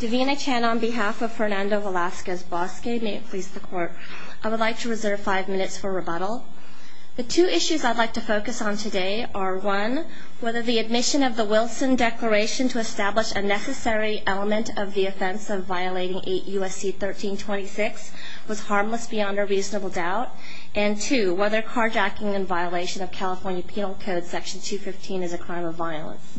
Divina Chan on behalf of Fernando Velasquez-Bosque, may it please the court, I would like to reserve five minutes for rebuttal. The two issues I'd like to focus on today are one, whether the admission of the Wilson Declaration to establish a necessary element of the offense of violating 8 U.S.C. 1326 was harmless beyond a reasonable doubt, and two, whether carjacking in violation of California Penal Code Section 215 is a crime of violence.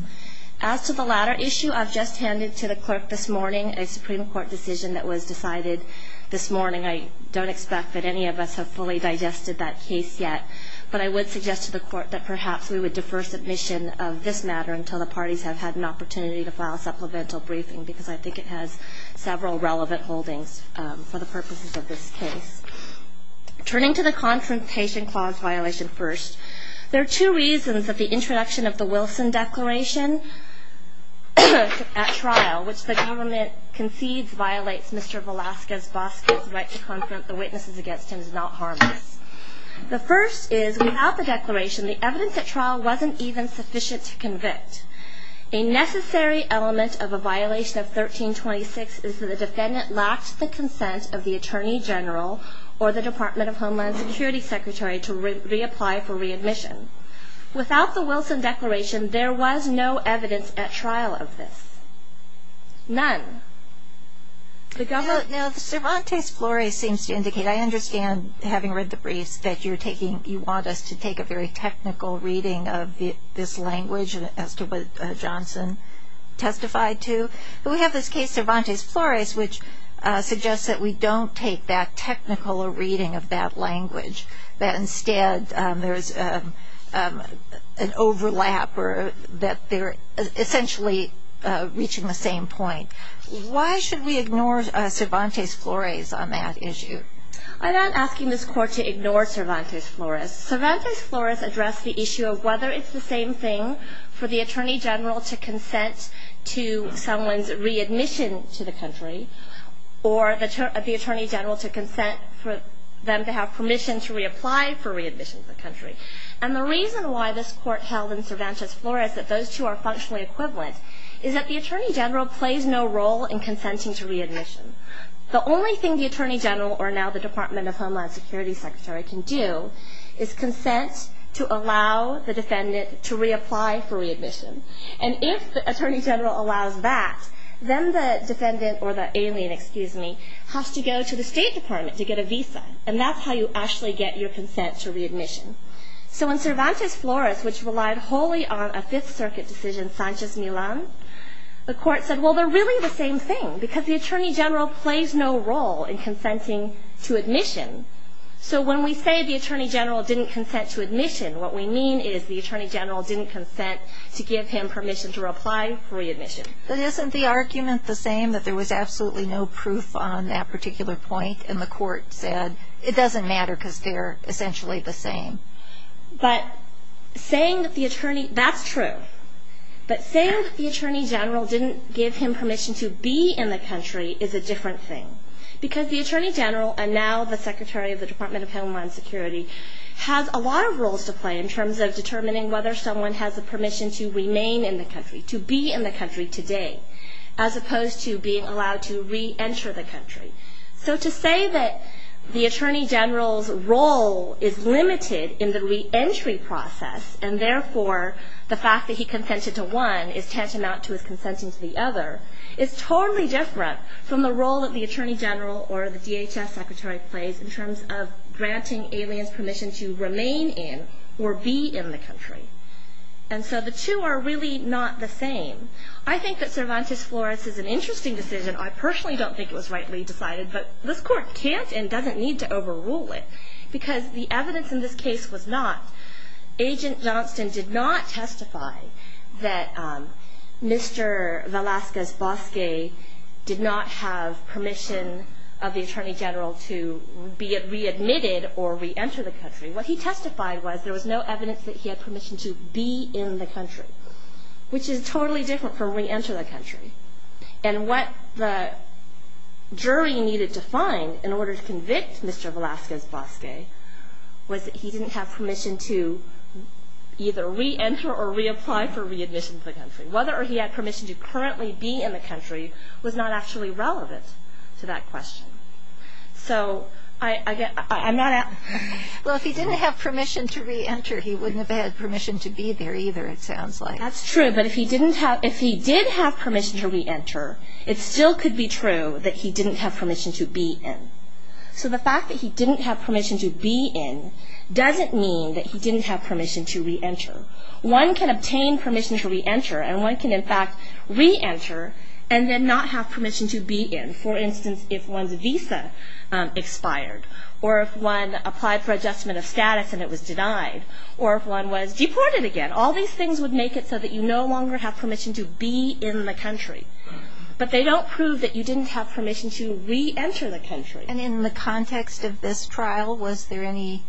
As to the latter issue, I've just handed to the clerk this morning a Supreme Court decision that was decided this morning. I don't expect that any of us have fully digested that case yet, but I would suggest to the court that perhaps we would defer submission of this matter until the parties have had an opportunity to file a supplemental briefing, because I think it has several relevant holdings for the purposes of this case. Turning to the confrontation clause violation first, there are two reasons that the introduction of the Wilson Declaration at trial, which the government concedes violates Mr. Velasquez-Bosque's right to confront the witnesses against him, is not harmless. The first is, without the declaration, the evidence at trial wasn't even sufficient to convict. A necessary element of a violation of 1326 is that the defendant lacked the consent of the Attorney General or the Department of Homeland Security Secretary to reapply for readmission. Without the Wilson Declaration, there was no evidence at trial of this. None. Now, Cervantes Flores seems to indicate, I understand, having read the briefs, that you want us to take a very technical reading of this language as to what Johnson testified to. We have this case, Cervantes Flores, which suggests that we don't take that technical reading of that language, that instead there's an overlap or that they're essentially reaching the same point. Why should we ignore Cervantes Flores on that issue? I'm not asking this Court to ignore Cervantes Flores. Cervantes Flores addressed the issue of whether it's the same thing for the Attorney General to consent to someone's readmission to the country or the Attorney General to consent for them to have permission to reapply for readmission to the country. And the reason why this Court held in Cervantes Flores that those two are functionally equivalent is that the Attorney General plays no role in consenting to readmission. The only thing the Attorney General, or now the Department of Homeland Security Secretary, can do is consent to allow the defendant to reapply for readmission. And if the Attorney General allows that, then the defendant, or the alien, excuse me, has to go to the State Department to get a visa. And that's how you actually get your consent to readmission. So in Cervantes Flores, which relied wholly on a Fifth Circuit decision, Sanchez-Millan, the Court said, well, they're really the same thing, because the Attorney General plays no role in consenting to admission. So when we say the Attorney General didn't consent to admission, what we mean is the Attorney General didn't consent to give him permission to reply for readmission. But isn't the argument the same, that there was absolutely no proof on that particular point, and the Court said it doesn't matter because they're essentially the same? But saying that the Attorney, that's true. But saying that the Attorney General didn't give him permission to be in the country is a different thing. Because the Attorney General, and now the Secretary of the Department of Homeland Security, has a lot of roles to play in terms of determining whether someone has the permission to remain in the country, to be in the country today, as opposed to being allowed to re-enter the country. So to say that the Attorney General's role is limited in the re-entry process, and therefore the fact that he consented to one is tantamount to his consenting to the other, is totally different from the role that the Attorney General or the DHS Secretary plays in terms of granting aliens permission to remain in or be in the country. And so the two are really not the same. I think that Cervantes-Flores is an interesting decision. I personally don't think it was rightly decided, but this Court can't and doesn't need to overrule it, because the evidence in this case was not. Agent Johnston did not testify that Mr. Velazquez-Bosque did not have permission of the Attorney General to be readmitted or re-enter the country. What he testified was there was no evidence that he had permission to be in the country, which is totally different from re-enter the country. And what the jury needed to find in order to convict Mr. Velazquez-Bosque was that he didn't have permission to either re-enter or reapply for readmission to the country. Whether he had permission to currently be in the country was not actually relevant to that question. Well, if he didn't have permission to re-enter, he wouldn't have had permission to be there either, it sounds like. That's true, but if he did have permission to re-enter, it still could be true that he didn't have permission to be in. So the fact that he didn't have permission to be in doesn't mean that he didn't have permission to re-enter. One can obtain permission to re-enter, and one can in fact re-enter and then not have permission to be in. For instance, if one's visa expired, or if one applied for adjustment of status and it was denied, or if one was deported again, all these things would make it so that you no longer have permission to be in the country. But they don't prove that you didn't have permission to re-enter the country. And in the context of this trial, was there any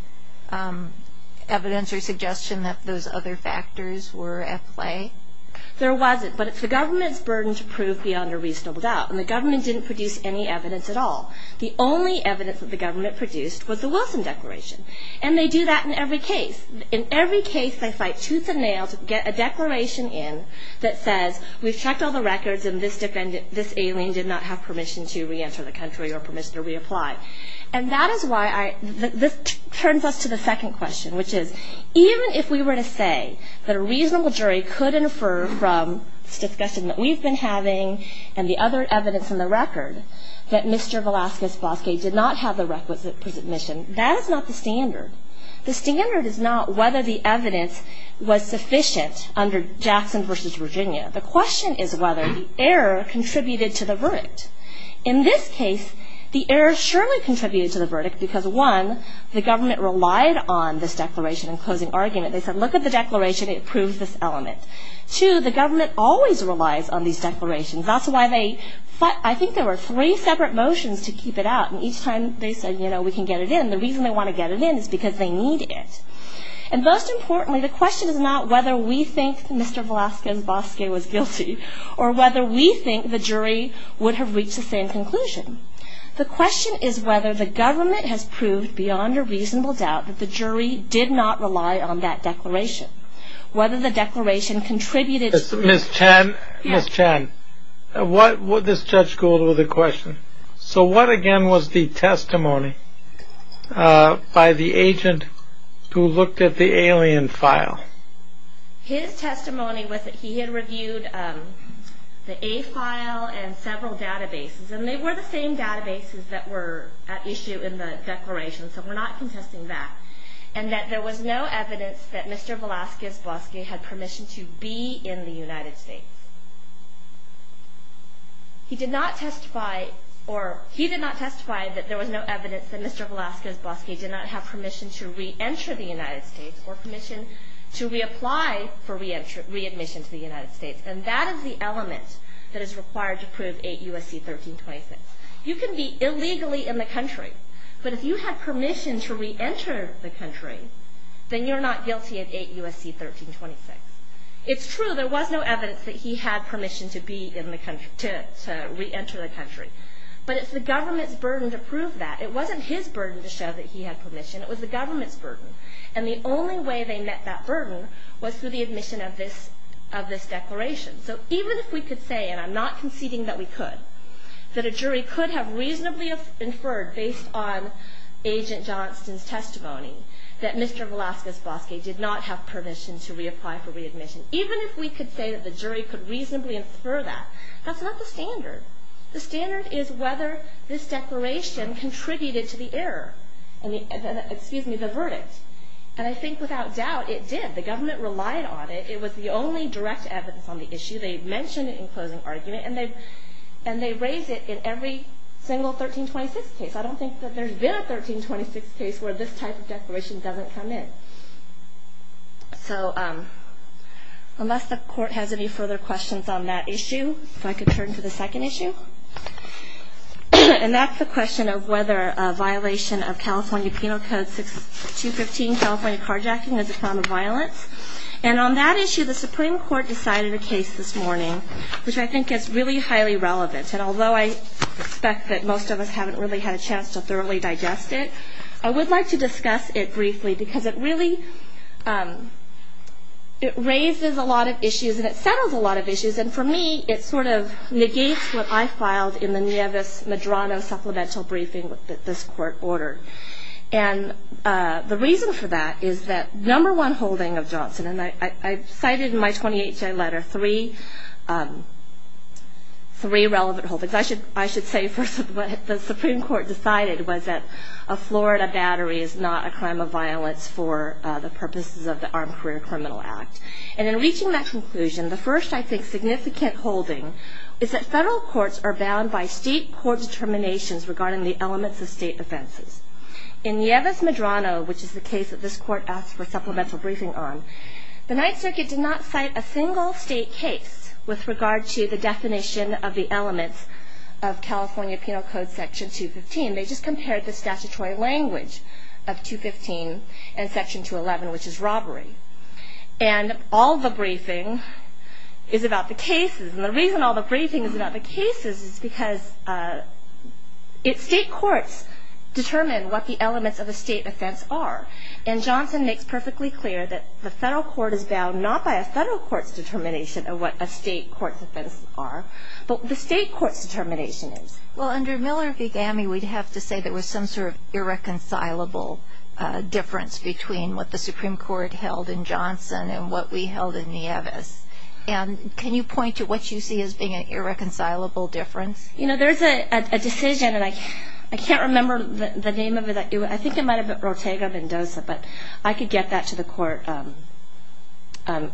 evidence or suggestion that those other factors were at play? There wasn't, but it's the government's burden to prove beyond a reasonable doubt. And the government didn't produce any evidence at all. The only evidence that the government produced was the Wilson Declaration. And they do that in every case. In every case they fight tooth and nail to get a declaration in that says, we've checked all the records and this alien did not have permission to re-enter the country or permission to reapply. And that is why this turns us to the second question, which is even if we were to say that a reasonable jury could infer from this discussion that we've been having and the other evidence in the record that Mr. Velazquez Bosque did not have the requisite permission, that is not the standard. The standard is not whether the evidence was sufficient under Jackson v. Virginia. The question is whether the error contributed to the verdict. In this case, the error surely contributed to the verdict because one, the government relied on this declaration in closing argument. They said, look at the declaration, it proves this element. Two, the government always relies on these declarations. That's why they, I think there were three separate motions to keep it out. And each time they said, you know, we can get it in. The reason they want to get it in is because they need it. And most importantly, the question is not whether we think Mr. Velazquez Bosque was guilty or whether we think the jury would have reached the same conclusion. The question is whether the government has proved beyond a reasonable doubt that the jury did not rely on that declaration. Whether the declaration contributed. Ms. Chen, Ms. Chen, this judge called over the question. So what again was the testimony by the agent who looked at the alien file? His testimony was that he had reviewed the A file and several databases. And they were the same databases that were at issue in the declaration. So we're not contesting that. And that there was no evidence that Mr. Velazquez Bosque had permission to be in the United States. He did not testify or he did not testify that there was no evidence that Mr. Velazquez Bosque did not have permission to reenter the United States or permission to reapply for readmission to the United States. And that is the element that is required to prove 8 U.S.C. 1326. You can be illegally in the country. But if you had permission to reenter the country, then you're not guilty of 8 U.S.C. 1326. It's true there was no evidence that he had permission to be in the country, to reenter the country. But it's the government's burden to prove that. It wasn't his burden to show that he had permission. It was the government's burden. And the only way they met that burden was through the admission of this declaration. So even if we could say, and I'm not conceding that we could, that a jury could have reasonably inferred based on Agent Johnston's testimony that Mr. Velazquez Bosque did not have permission to reapply for readmission, even if we could say that the jury could reasonably infer that, that's not the standard. The standard is whether this declaration contributed to the error, excuse me, the verdict. And I think without doubt it did. The government relied on it. It was the only direct evidence on the issue. They mentioned it in closing argument. And they raised it in every single 1326 case. I don't think that there's been a 1326 case where this type of declaration doesn't come in. So unless the court has any further questions on that issue, if I could turn to the second issue. And that's the question of whether a violation of California Penal Code 215, California Carjacking, is a form of violence. And on that issue, the Supreme Court decided a case this morning, which I think is really highly relevant. And although I suspect that most of us haven't really had a chance to thoroughly digest it, I would like to discuss it briefly because it really raises a lot of issues and it settles a lot of issues. And for me, it sort of negates what I filed in the Nieves-Medrano Supplemental Briefing that this court ordered. And the reason for that is that number one holding of Johnson, and I cited in my 28-J letter three relevant holdings. I should say first what the Supreme Court decided was that a Florida battery is not a crime of violence for the purposes of the Armed Career Criminal Act. And in reaching that conclusion, the first, I think, significant holding is that federal courts are bound by state court determinations regarding the elements of state offenses. In Nieves-Medrano, which is the case that this court asked for supplemental briefing on, the Ninth Circuit did not cite a single state case with regard to the definition of the elements of California Penal Code Section 215. They just compared the statutory language of 215 and Section 211, which is robbery. And all the briefing is about the cases. And the reason all the briefing is about the cases is because state courts determine what the elements of a state offense are, and Johnson makes perfectly clear that the federal court is bound not by a federal court's determination of what a state court's offense are, but the state court's determination is. Well, under Miller v. Gammey, we'd have to say there was some sort of irreconcilable difference between what the Supreme Court held in Johnson and what we held in Nieves. And can you point to what you see as being an irreconcilable difference? You know, there's a decision, and I can't remember the name of it. I think it might have been Ortega-Mendoza, but I could get that to the court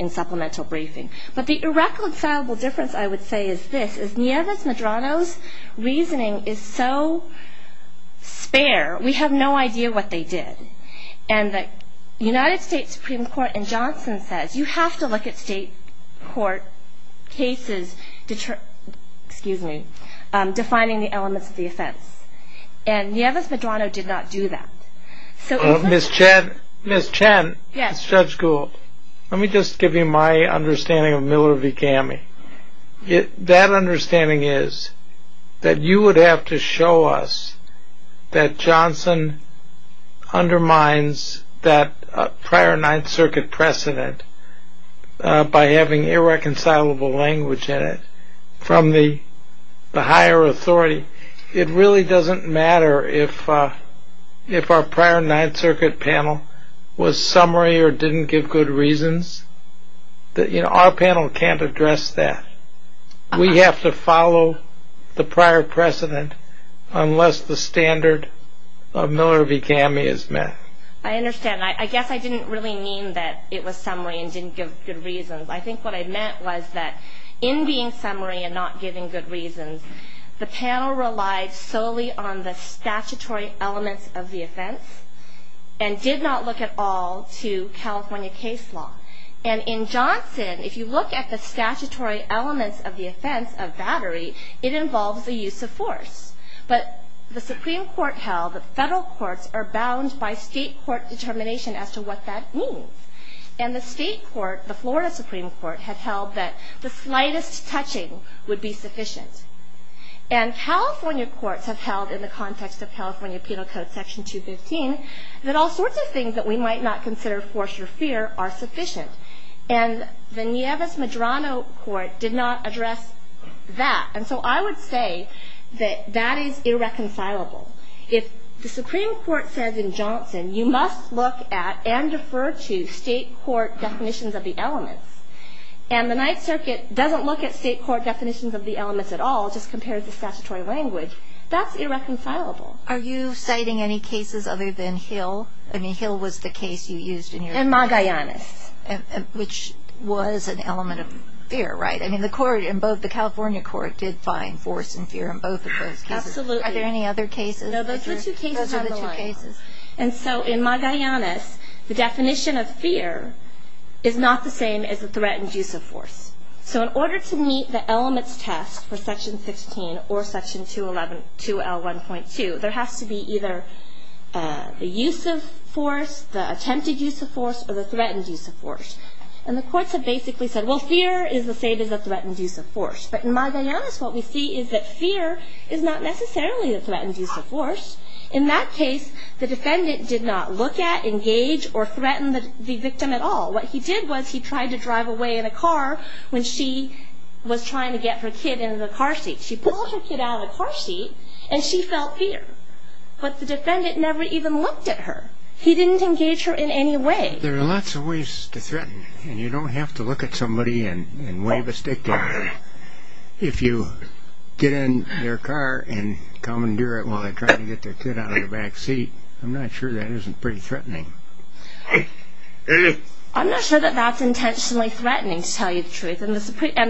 in supplemental briefing. But the irreconcilable difference, I would say, is this, is Nieves-Medrano's reasoning is so spare. We have no idea what they did. And the United States Supreme Court in Johnson says you have to look at state court cases, excuse me, defining the elements of the offense. And Nieves-Medrano did not do that. Ms. Chen, it's Judge Gould. Let me just give you my understanding of Miller v. Gammey. That understanding is that you would have to show us that Johnson undermines that prior Ninth Circuit precedent by having irreconcilable language in it from the higher authority. It really doesn't matter if our prior Ninth Circuit panel was summary or didn't give good reasons. Our panel can't address that. We have to follow the prior precedent unless the standard of Miller v. Gammey is met. I understand. I guess I didn't really mean that it was summary and didn't give good reasons. I think what I meant was that in being summary and not giving good reasons, the panel relied solely on the statutory elements of the offense and did not look at all to California case law. And in Johnson, if you look at the statutory elements of the offense of battery, it involves the use of force. But the Supreme Court held that federal courts are bound by state court determination as to what that means. And the state court, the Florida Supreme Court, had held that the slightest touching would be sufficient. And California courts have held in the context of California Penal Code Section 215 that all sorts of things that we might not consider force or fear are sufficient. And the Nieves-Medrano Court did not address that. And so I would say that that is irreconcilable. If the Supreme Court says in Johnson you must look at and defer to state court definitions of the elements, and the Ninth Circuit doesn't look at state court definitions of the elements at all, just compares the statutory language, that's irreconcilable. Are you citing any cases other than Hill? I mean, Hill was the case you used in your case. In Magallanes. Which was an element of fear, right? I mean, the California court did find force and fear in both of those cases. Absolutely. Are there any other cases? No, those are the two cases on the line. And so in Magallanes, the definition of fear is not the same as the threat and use of force. So in order to meet the elements test for Section 15 or Section 2L1.2, there has to be either the use of force, the attempted use of force, or the threat and use of force. And the courts have basically said, well, fear is the same as the threat and use of force. But in Magallanes, what we see is that fear is not necessarily the threat and use of force. In that case, the defendant did not look at, engage, or threaten the victim at all. What he did was he tried to drive away in a car when she was trying to get her kid into the car seat. She pulled her kid out of the car seat, and she fell fear. But the defendant never even looked at her. He didn't engage her in any way. There are lots of ways to threaten. And you don't have to look at somebody and wave a stick at them. If you get in their car and commandeer it while they're trying to get their kid out of the back seat, I'm not sure that isn't pretty threatening. I'm not sure that that's intentionally threatening, to tell you the truth. And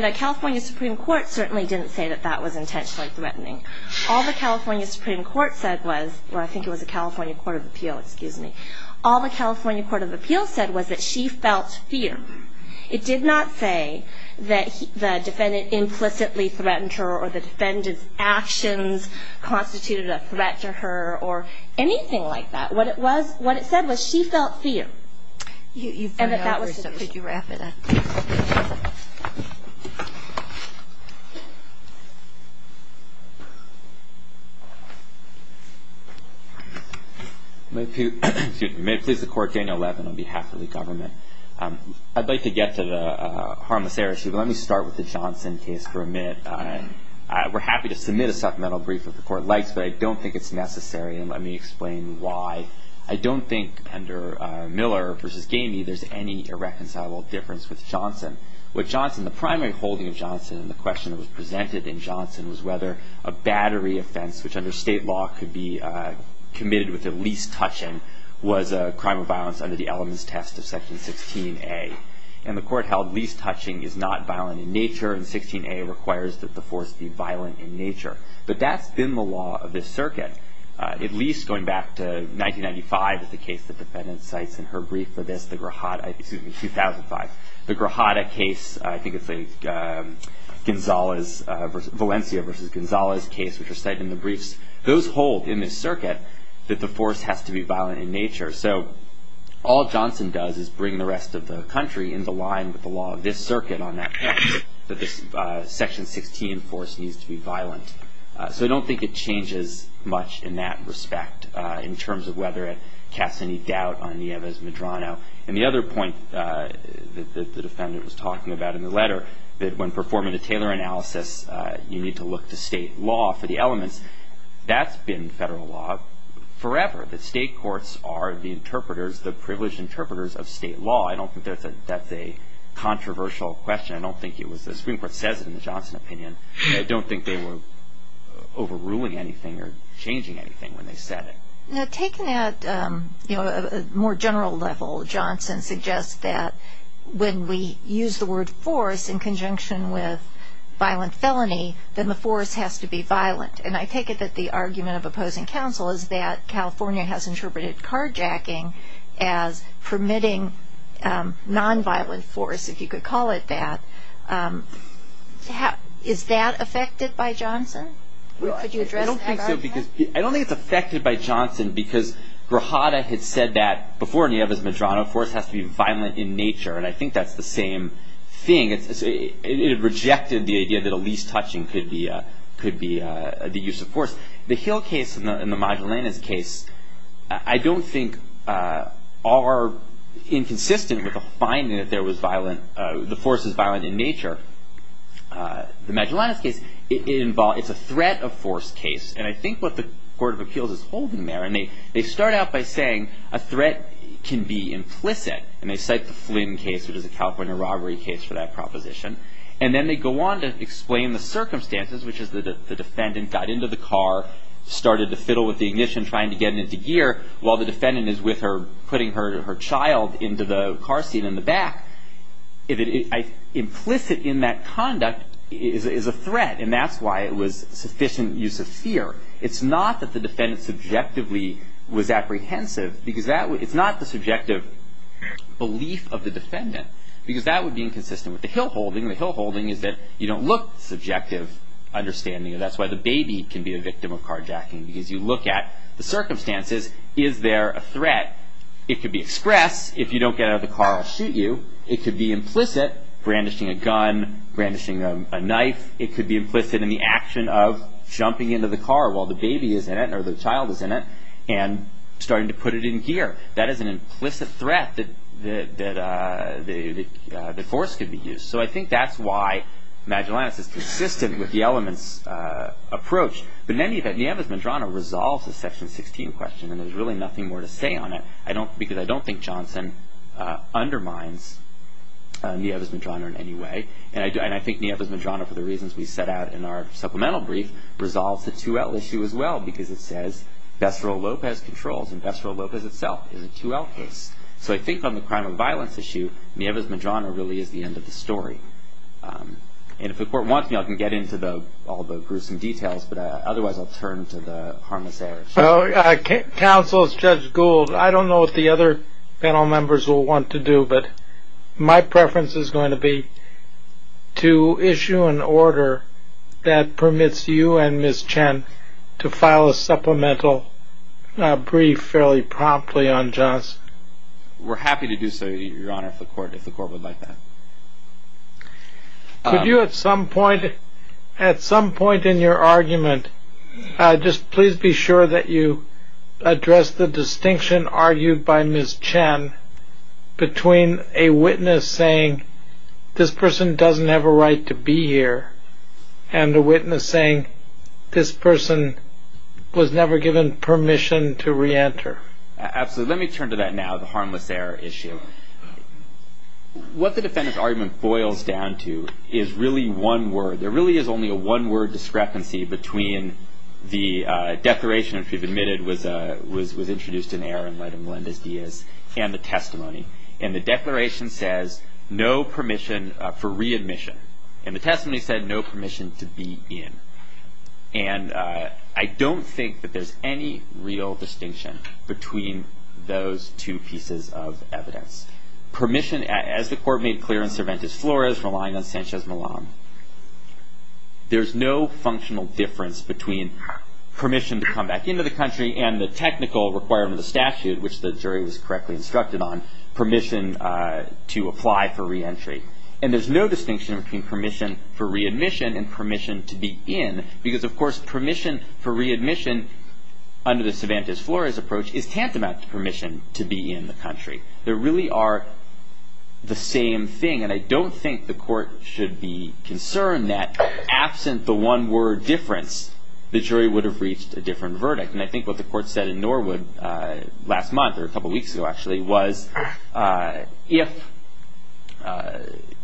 the California Supreme Court certainly didn't say that that was intentionally threatening. All the California Supreme Court said was, well, I think it was the California Court of Appeal, excuse me. All the California Court of Appeal said was that she felt fear. It did not say that the defendant implicitly threatened her or the defendant's actions constituted a threat to her or anything like that. What it said was she felt fear. And that that was the case. May it please the Court, Daniel Levin on behalf of the government. I'd like to get to the harmless heiress. Let me start with the Johnson case for a minute. We're happy to submit a supplemental brief if the Court likes, but I don't think it's necessary. And let me explain why. I don't think under Miller v. Gamey there's any irreconcilable difference with Johnson. With Johnson, the primary holding of Johnson and the question that was presented in Johnson was whether a battery offense, which under state law could be committed with the least touching, was a crime of violence under the elements test of Section 16A. And the Court held least touching is not violent in nature, and 16A requires that the force be violent in nature. But that's been the law of this circuit, at least going back to 1995, the case the defendant cites in her brief for this, the Grajada, excuse me, 2005. The Grajada case, I think it's Valencia v. Gonzalez case, which are cited in the briefs. Those hold in this circuit that the force has to be violent in nature. So all Johnson does is bring the rest of the country in the line with the law of this circuit on that point, that this Section 16 force needs to be violent. So I don't think it changes much in that respect in terms of whether it casts any doubt on Nieves-Medrano. And the other point that the defendant was talking about in the letter, that when performing a Taylor analysis, you need to look to state law for the elements, that's been federal law forever. The state courts are the interpreters, the privileged interpreters of state law. I don't think that's a controversial question. I don't think it was the Supreme Court says it in the Johnson opinion. I don't think they were overruling anything or changing anything when they said it. Now taken at a more general level, Johnson suggests that when we use the word force in conjunction with violent felony, then the force has to be violent. And I take it that the argument of opposing counsel is that California has interpreted carjacking as permitting nonviolent force, if you could call it that. Is that affected by Johnson? I don't think so. I don't think it's affected by Johnson because Grajada had said that before Nieves-Medrano, force has to be violent in nature. And I think that's the same thing. It rejected the idea that a least touching could be the use of force. The Hill case and the Magellanes case I don't think are inconsistent with the finding that there was violent, the force is violent in nature. The Magellanes case, it's a threat of force case. And I think what the Court of Appeals is holding there, and they start out by saying a threat can be implicit. And they cite the Flynn case, which is a California robbery case for that proposition. And then they go on to explain the circumstances, which is the defendant got into the car, started to fiddle with the ignition trying to get it into gear, while the defendant is with her putting her child into the car seat in the back. Implicit in that conduct is a threat, and that's why it was sufficient use of fear. It's not that the defendant subjectively was apprehensive, because it's not the subjective belief of the defendant, because that would be inconsistent with the Hill holding. The Hill holding is that you don't look subjective understanding, and that's why the baby can be a victim of carjacking, because you look at the circumstances, is there a threat? It could be express, if you don't get out of the car I'll shoot you. It could be implicit, brandishing a gun, brandishing a knife. It could be implicit in the action of jumping into the car while the baby is in it, or the child is in it, and starting to put it in gear. That is an implicit threat that force could be used. So I think that's why Magellanus is consistent with the elements approach. But in any event, Nevis Medrano resolves the section 16 question, and there's really nothing more to say on it, because I don't think Johnson undermines Nevis Medrano in any way, and I think Nevis Medrano, for the reasons we set out in our supplemental brief, resolves the 2L issue as well, because it says Vestal Lopez controls, and Vestal Lopez itself is a 2L case. So I think on the crime of violence issue, Nevis Medrano really is the end of the story. And if the court wants me I can get into all the gruesome details, but otherwise I'll turn to the harmless heirs. Counsel, Judge Gould, I don't know what the other panel members will want to do, but my preference is going to be to issue an order that permits you and Ms. Chen to file a supplemental brief fairly promptly on Johnson. We're happy to do so, Your Honor, if the court would like that. Could you at some point in your argument, just please be sure that you address the distinction argued by Ms. Chen between a witness saying this person doesn't have a right to be here and a witness saying this person was never given permission to reenter? Absolutely. Let me turn to that now, the harmless heir issue. What the defendant's argument boils down to is really one word. There really is only a one-word discrepancy between the declaration, which we've admitted was introduced in error in light of Melendez-Diaz, and the testimony. And the declaration says no permission for readmission, and the testimony said no permission to be in. And I don't think that there's any real distinction between those two pieces of evidence. Permission, as the court made clear in Cervantes Flores, relying on Sanchez-Milan. There's no functional difference between permission to come back into the country and the technical requirement of the statute, which the jury was correctly instructed on, permission to apply for reentry. And there's no distinction between permission for readmission and permission to be in, because, of course, permission for readmission under the Cervantes Flores approach is tantamount to permission to be in the country. There really are the same thing. And I don't think the court should be concerned that, absent the one-word difference, the jury would have reached a different verdict. And I think what the court said in Norwood last month, or a couple weeks ago actually, was if,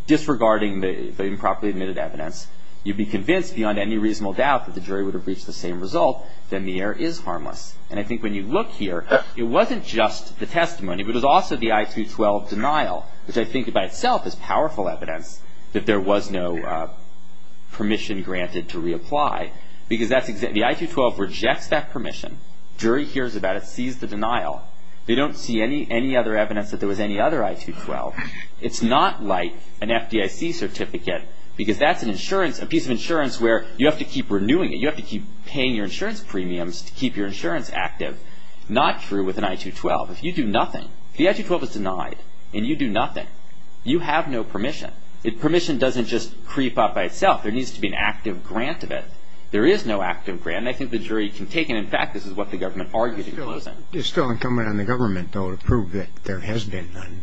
disregarding the improperly admitted evidence, you'd be convinced beyond any reasonable doubt that the jury would have reached the same result, then the error is harmless. And I think when you look here, it wasn't just the testimony, but it was also the I-212 denial, which I think by itself is powerful evidence that there was no permission granted to reapply, because the I-212 rejects that permission. Jury hears about it, sees the denial. They don't see any other evidence that there was any other I-212. It's not like an FDIC certificate, because that's a piece of insurance where you have to keep renewing it. You have to keep paying your insurance premiums to keep your insurance active. Not true with an I-212. If you do nothing, if the I-212 is denied and you do nothing, you have no permission. Permission doesn't just creep up by itself. There needs to be an active grant of it. There is no active grant, and I think the jury can take it. In fact, this is what the government argued in closing. It's still incumbent on the government, though, to prove that there has been none.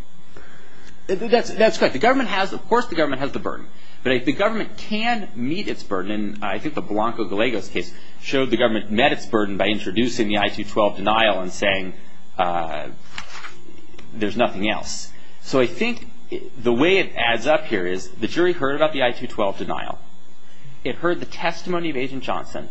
That's correct. Of course the government has the burden, but if the government can meet its burden, and I think the Blanco-Galegos case showed the government met its burden by introducing the I-212 denial and saying there's nothing else. So I think the way it adds up here is the jury heard about the I-212 denial. It heard the testimony of Agent Johnson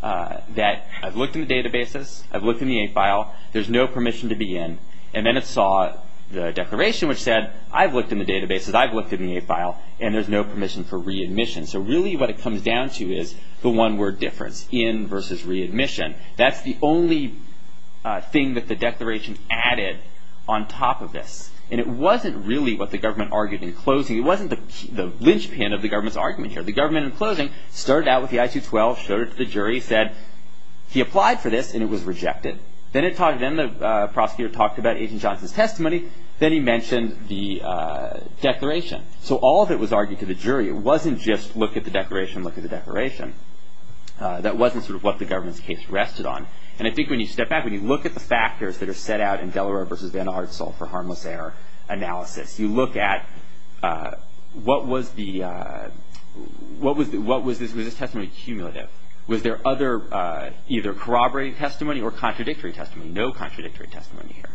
that I've looked in the databases, I've looked in the A file, there's no permission to be in, and then it saw the declaration which said I've looked in the databases, I've looked in the A file, and there's no permission for readmission. So really what it comes down to is the one-word difference, in versus readmission. That's the only thing that the declaration added on top of this, and it wasn't really what the government argued in closing. It wasn't the linchpin of the government's argument here. The government, in closing, started out with the I-212, showed it to the jury, said he applied for this, and it was rejected. Then the prosecutor talked about Agent Johnson's testimony, then he mentioned the declaration. So all of it was argued to the jury. It wasn't just look at the declaration, look at the declaration. That wasn't sort of what the government's case rested on. And I think when you step back, when you look at the factors that are set out in Delaro versus Van Arssel for harmless error analysis, you look at what was this testimony cumulative? Was there either corroborated testimony or contradictory testimony? No contradictory testimony here.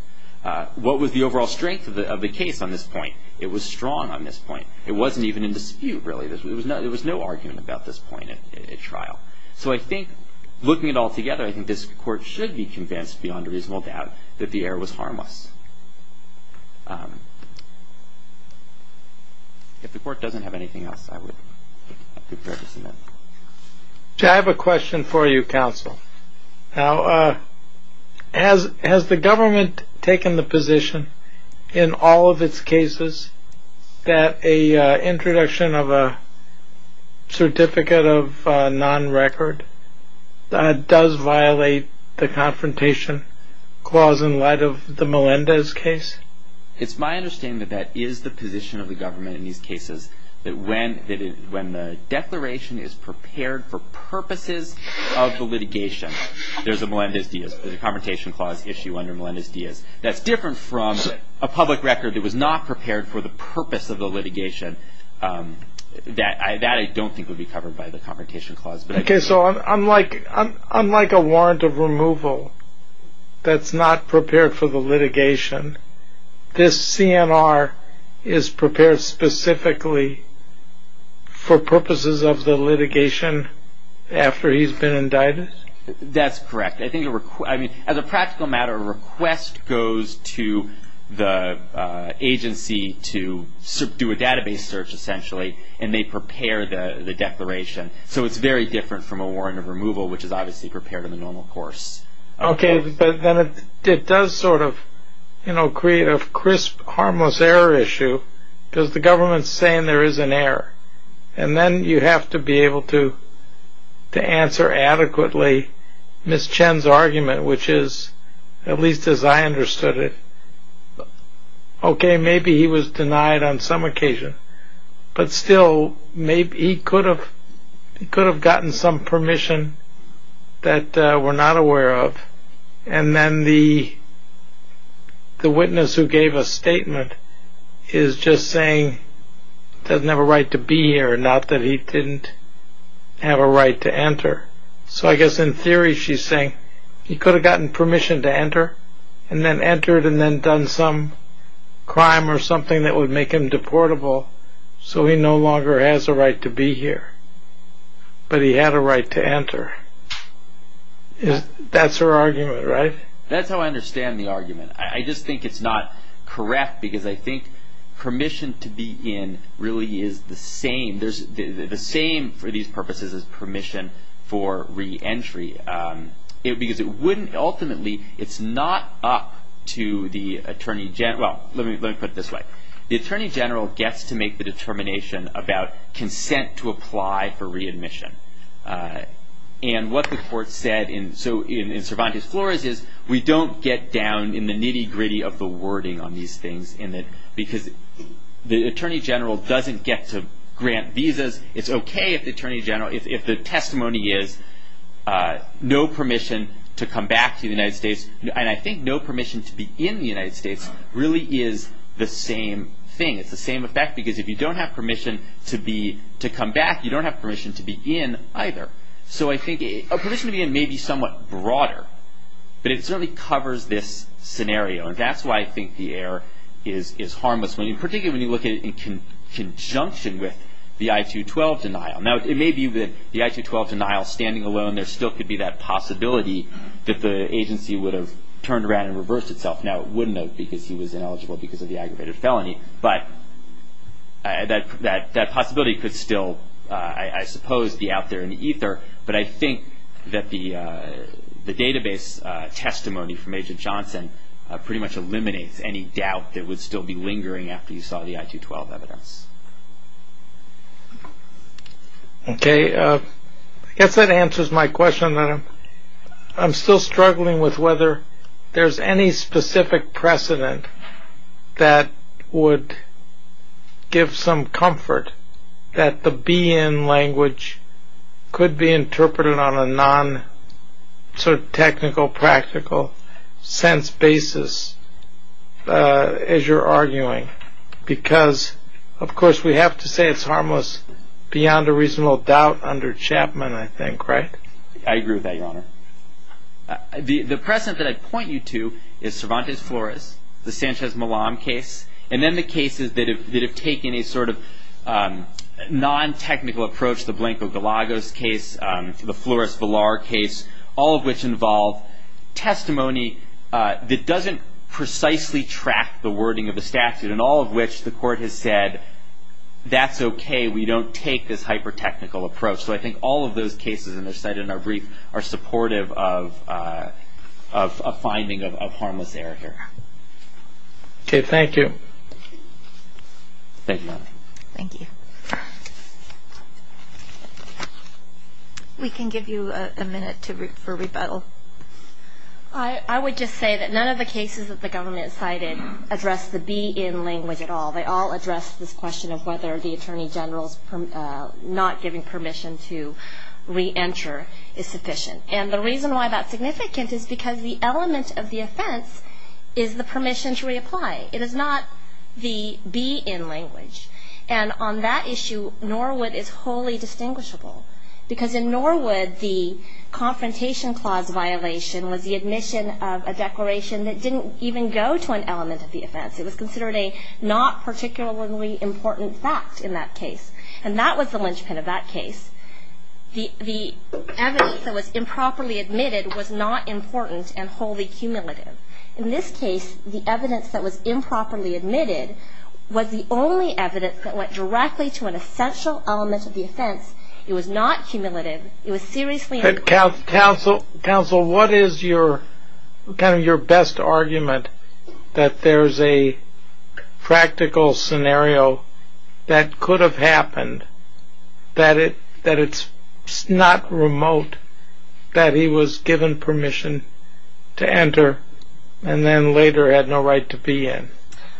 What was the overall strength of the case on this point? It was strong on this point. It wasn't even in dispute, really. There was no argument about this point at trial. So I think, looking at it all together, I think this Court should be convinced, beyond a reasonable doubt, that the error was harmless. If the Court doesn't have anything else, I would prefer to submit. I have a question for you, counsel. Now, has the government taken the position in all of its cases that an introduction of a certificate of non-record does violate the Confrontation Clause in light of the Melendez case? It's my understanding that that is the position of the government in these cases, that when the declaration is prepared for purposes of the litigation, there's a Melendez-Diaz, there's a Confrontation Clause issue under Melendez-Diaz, that's different from a public record that was not prepared for the purpose of the litigation. That I don't think would be covered by the Confrontation Clause. Okay, so unlike a warrant of removal that's not prepared for the litigation, this CNR is prepared specifically for purposes of the litigation after he's been indicted? That's correct. As a practical matter, a request goes to the agency to do a database search, essentially, and they prepare the declaration. So it's very different from a warrant of removal, which is obviously prepared in the normal course. Okay, but then it does sort of create a crisp, harmless error issue, because the government's saying there is an error, and then you have to be able to answer adequately Ms. Chen's argument, which is, at least as I understood it, okay, maybe he was denied on some occasion, but still he could have gotten some permission that we're not aware of, and then the witness who gave a statement is just saying he doesn't have a right to be here, not that he didn't have a right to enter. So I guess in theory she's saying he could have gotten permission to enter, and then entered and then done some crime or something that would make him deportable, so he no longer has a right to be here, but he had a right to enter. That's her argument, right? That's how I understand the argument. I just think it's not correct, because I think permission to be in really is the same. The same for these purposes is permission for reentry, because ultimately it's not up to the attorney general. Well, let me put it this way. The attorney general gets to make the determination about consent to apply for readmission, and what the court said in Cervantes Flores is, we don't get down in the nitty-gritty of the wording on these things, because the attorney general doesn't get to grant visas. It's okay if the testimony is no permission to come back to the United States, and I think no permission to be in the United States really is the same thing. It's the same effect, because if you don't have permission to come back, you don't have permission to be in either. So I think a permission to be in may be somewhat broader, but it certainly covers this scenario, and that's why I think the error is harmless, particularly when you look at it in conjunction with the I-212 denial. Now, it may be that the I-212 denial, standing alone, there still could be that possibility that the agency would have turned around and reversed itself. Now, it wouldn't have, because he was ineligible because of the aggravated felony, but that possibility could still, I suppose, be out there in ether, but I think that the database testimony from Agent Johnson pretty much eliminates any doubt that it would still be lingering after you saw the I-212 evidence. Okay. I guess that answers my question. I'm still struggling with whether there's any specific precedent that would give some comfort that the be-in language could be interpreted on a non-technical, practical sense basis, as you're arguing, because, of course, we have to say it's harmless beyond a reasonable doubt under Chapman, I think, right? I agree with that, Your Honor. The precedent that I point you to is Cervantes Flores, the Sanchez-Malam case, and then the cases that have taken a sort of non-technical approach, the Blanco-Galagos case, the Flores-Villar case, all of which involve testimony that doesn't precisely track the wording of the statute, and all of which the Court has said that's okay, we don't take this hyper-technical approach. So I think all of those cases, and they're cited in our brief, are supportive of a finding of harmless error here. Okay, thank you. Thank you, Your Honor. Thank you. We can give you a minute for rebuttal. I would just say that none of the cases that the government cited address the be-in language at all. They all address this question of whether the Attorney General's not giving permission to re-enter is sufficient. And the reason why that's significant is because the element of the offense is the permission to reapply. It is not the be-in language. And on that issue, Norwood is wholly distinguishable, because in Norwood the Confrontation Clause violation was the admission of a declaration that didn't even go to an element of the offense. It was considered a not particularly important fact in that case. And that was the linchpin of that case. The evidence that was improperly admitted was not important and wholly cumulative. In this case, the evidence that was improperly admitted was the only evidence that went directly to an essential element of the offense. It was not cumulative. It was seriously improper. Counsel, what is kind of your best argument that there's a practical scenario that could have happened that it's not remote that he was given permission to enter and then later had no right to be in?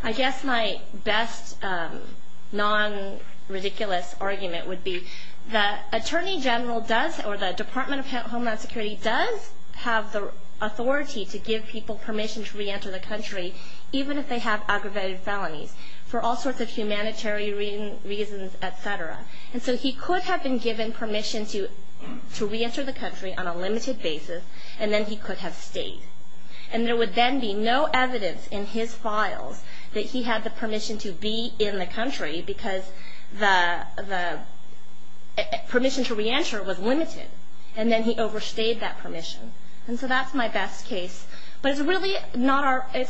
I guess my best non-ridiculous argument would be the Attorney General does, or the Department of Homeland Security does have the authority to give people permission to re-enter the country, even if they have aggravated felonies, for all sorts of humanitarian reasons, et cetera. And so he could have been given permission to re-enter the country on a limited basis, and then he could have stayed. And there would then be no evidence in his files that he had the permission to be in the country because the permission to re-enter was limited. And then he overstayed that permission. And so that's my best case. But it's really not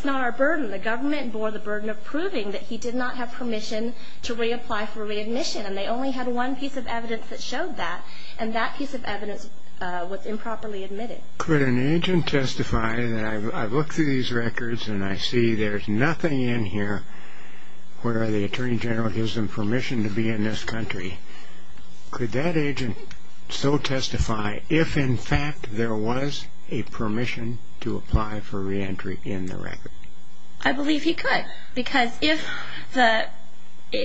our burden. The government bore the burden of proving that he did not have permission to reapply for readmission, and they only had one piece of evidence that showed that, and that piece of evidence was improperly admitted. Could an agent testify that I've looked through these records and I see there's nothing in here where the Attorney General gives them permission to be in this country. Could that agent so testify if, in fact, there was a permission to apply for re-entry in the record? I believe he could because if the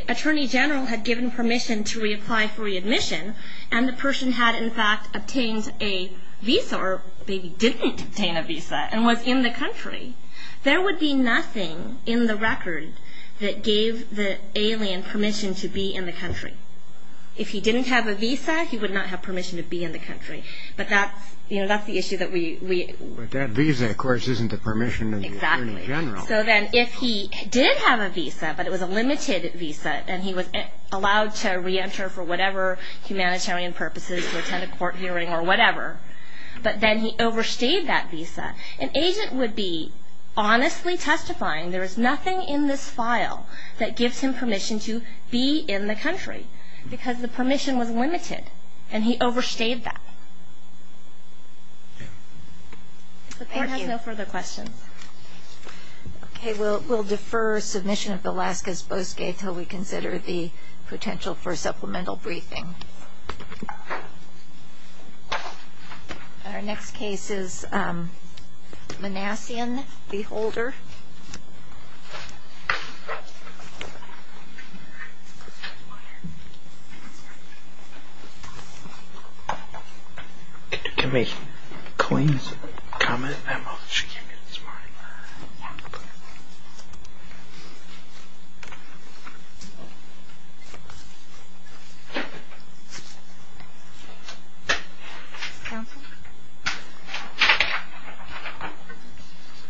Attorney General had given permission to reapply for readmission and the person had, in fact, obtained a visa or maybe didn't obtain a visa and was in the country, there would be nothing in the record that gave the alien permission to be in the country. If he didn't have a visa, he would not have permission to be in the country. But that's the issue that we... But that visa, of course, isn't the permission of the Attorney General. Exactly. So then if he did have a visa, but it was a limited visa, and he was allowed to re-enter for whatever humanitarian purposes, an agent would be honestly testifying, there is nothing in this file that gives him permission to be in the country because the permission was limited and he overstayed that. Thank you. The Court has no further questions. Okay. We'll defer submission of Velazquez-Bosquet until we consider the potential for supplemental briefing. Thank you. Our next case is Manassian v. Holder. Can you give me Colleen's comment? She can't hear this morning. Yeah. Okay.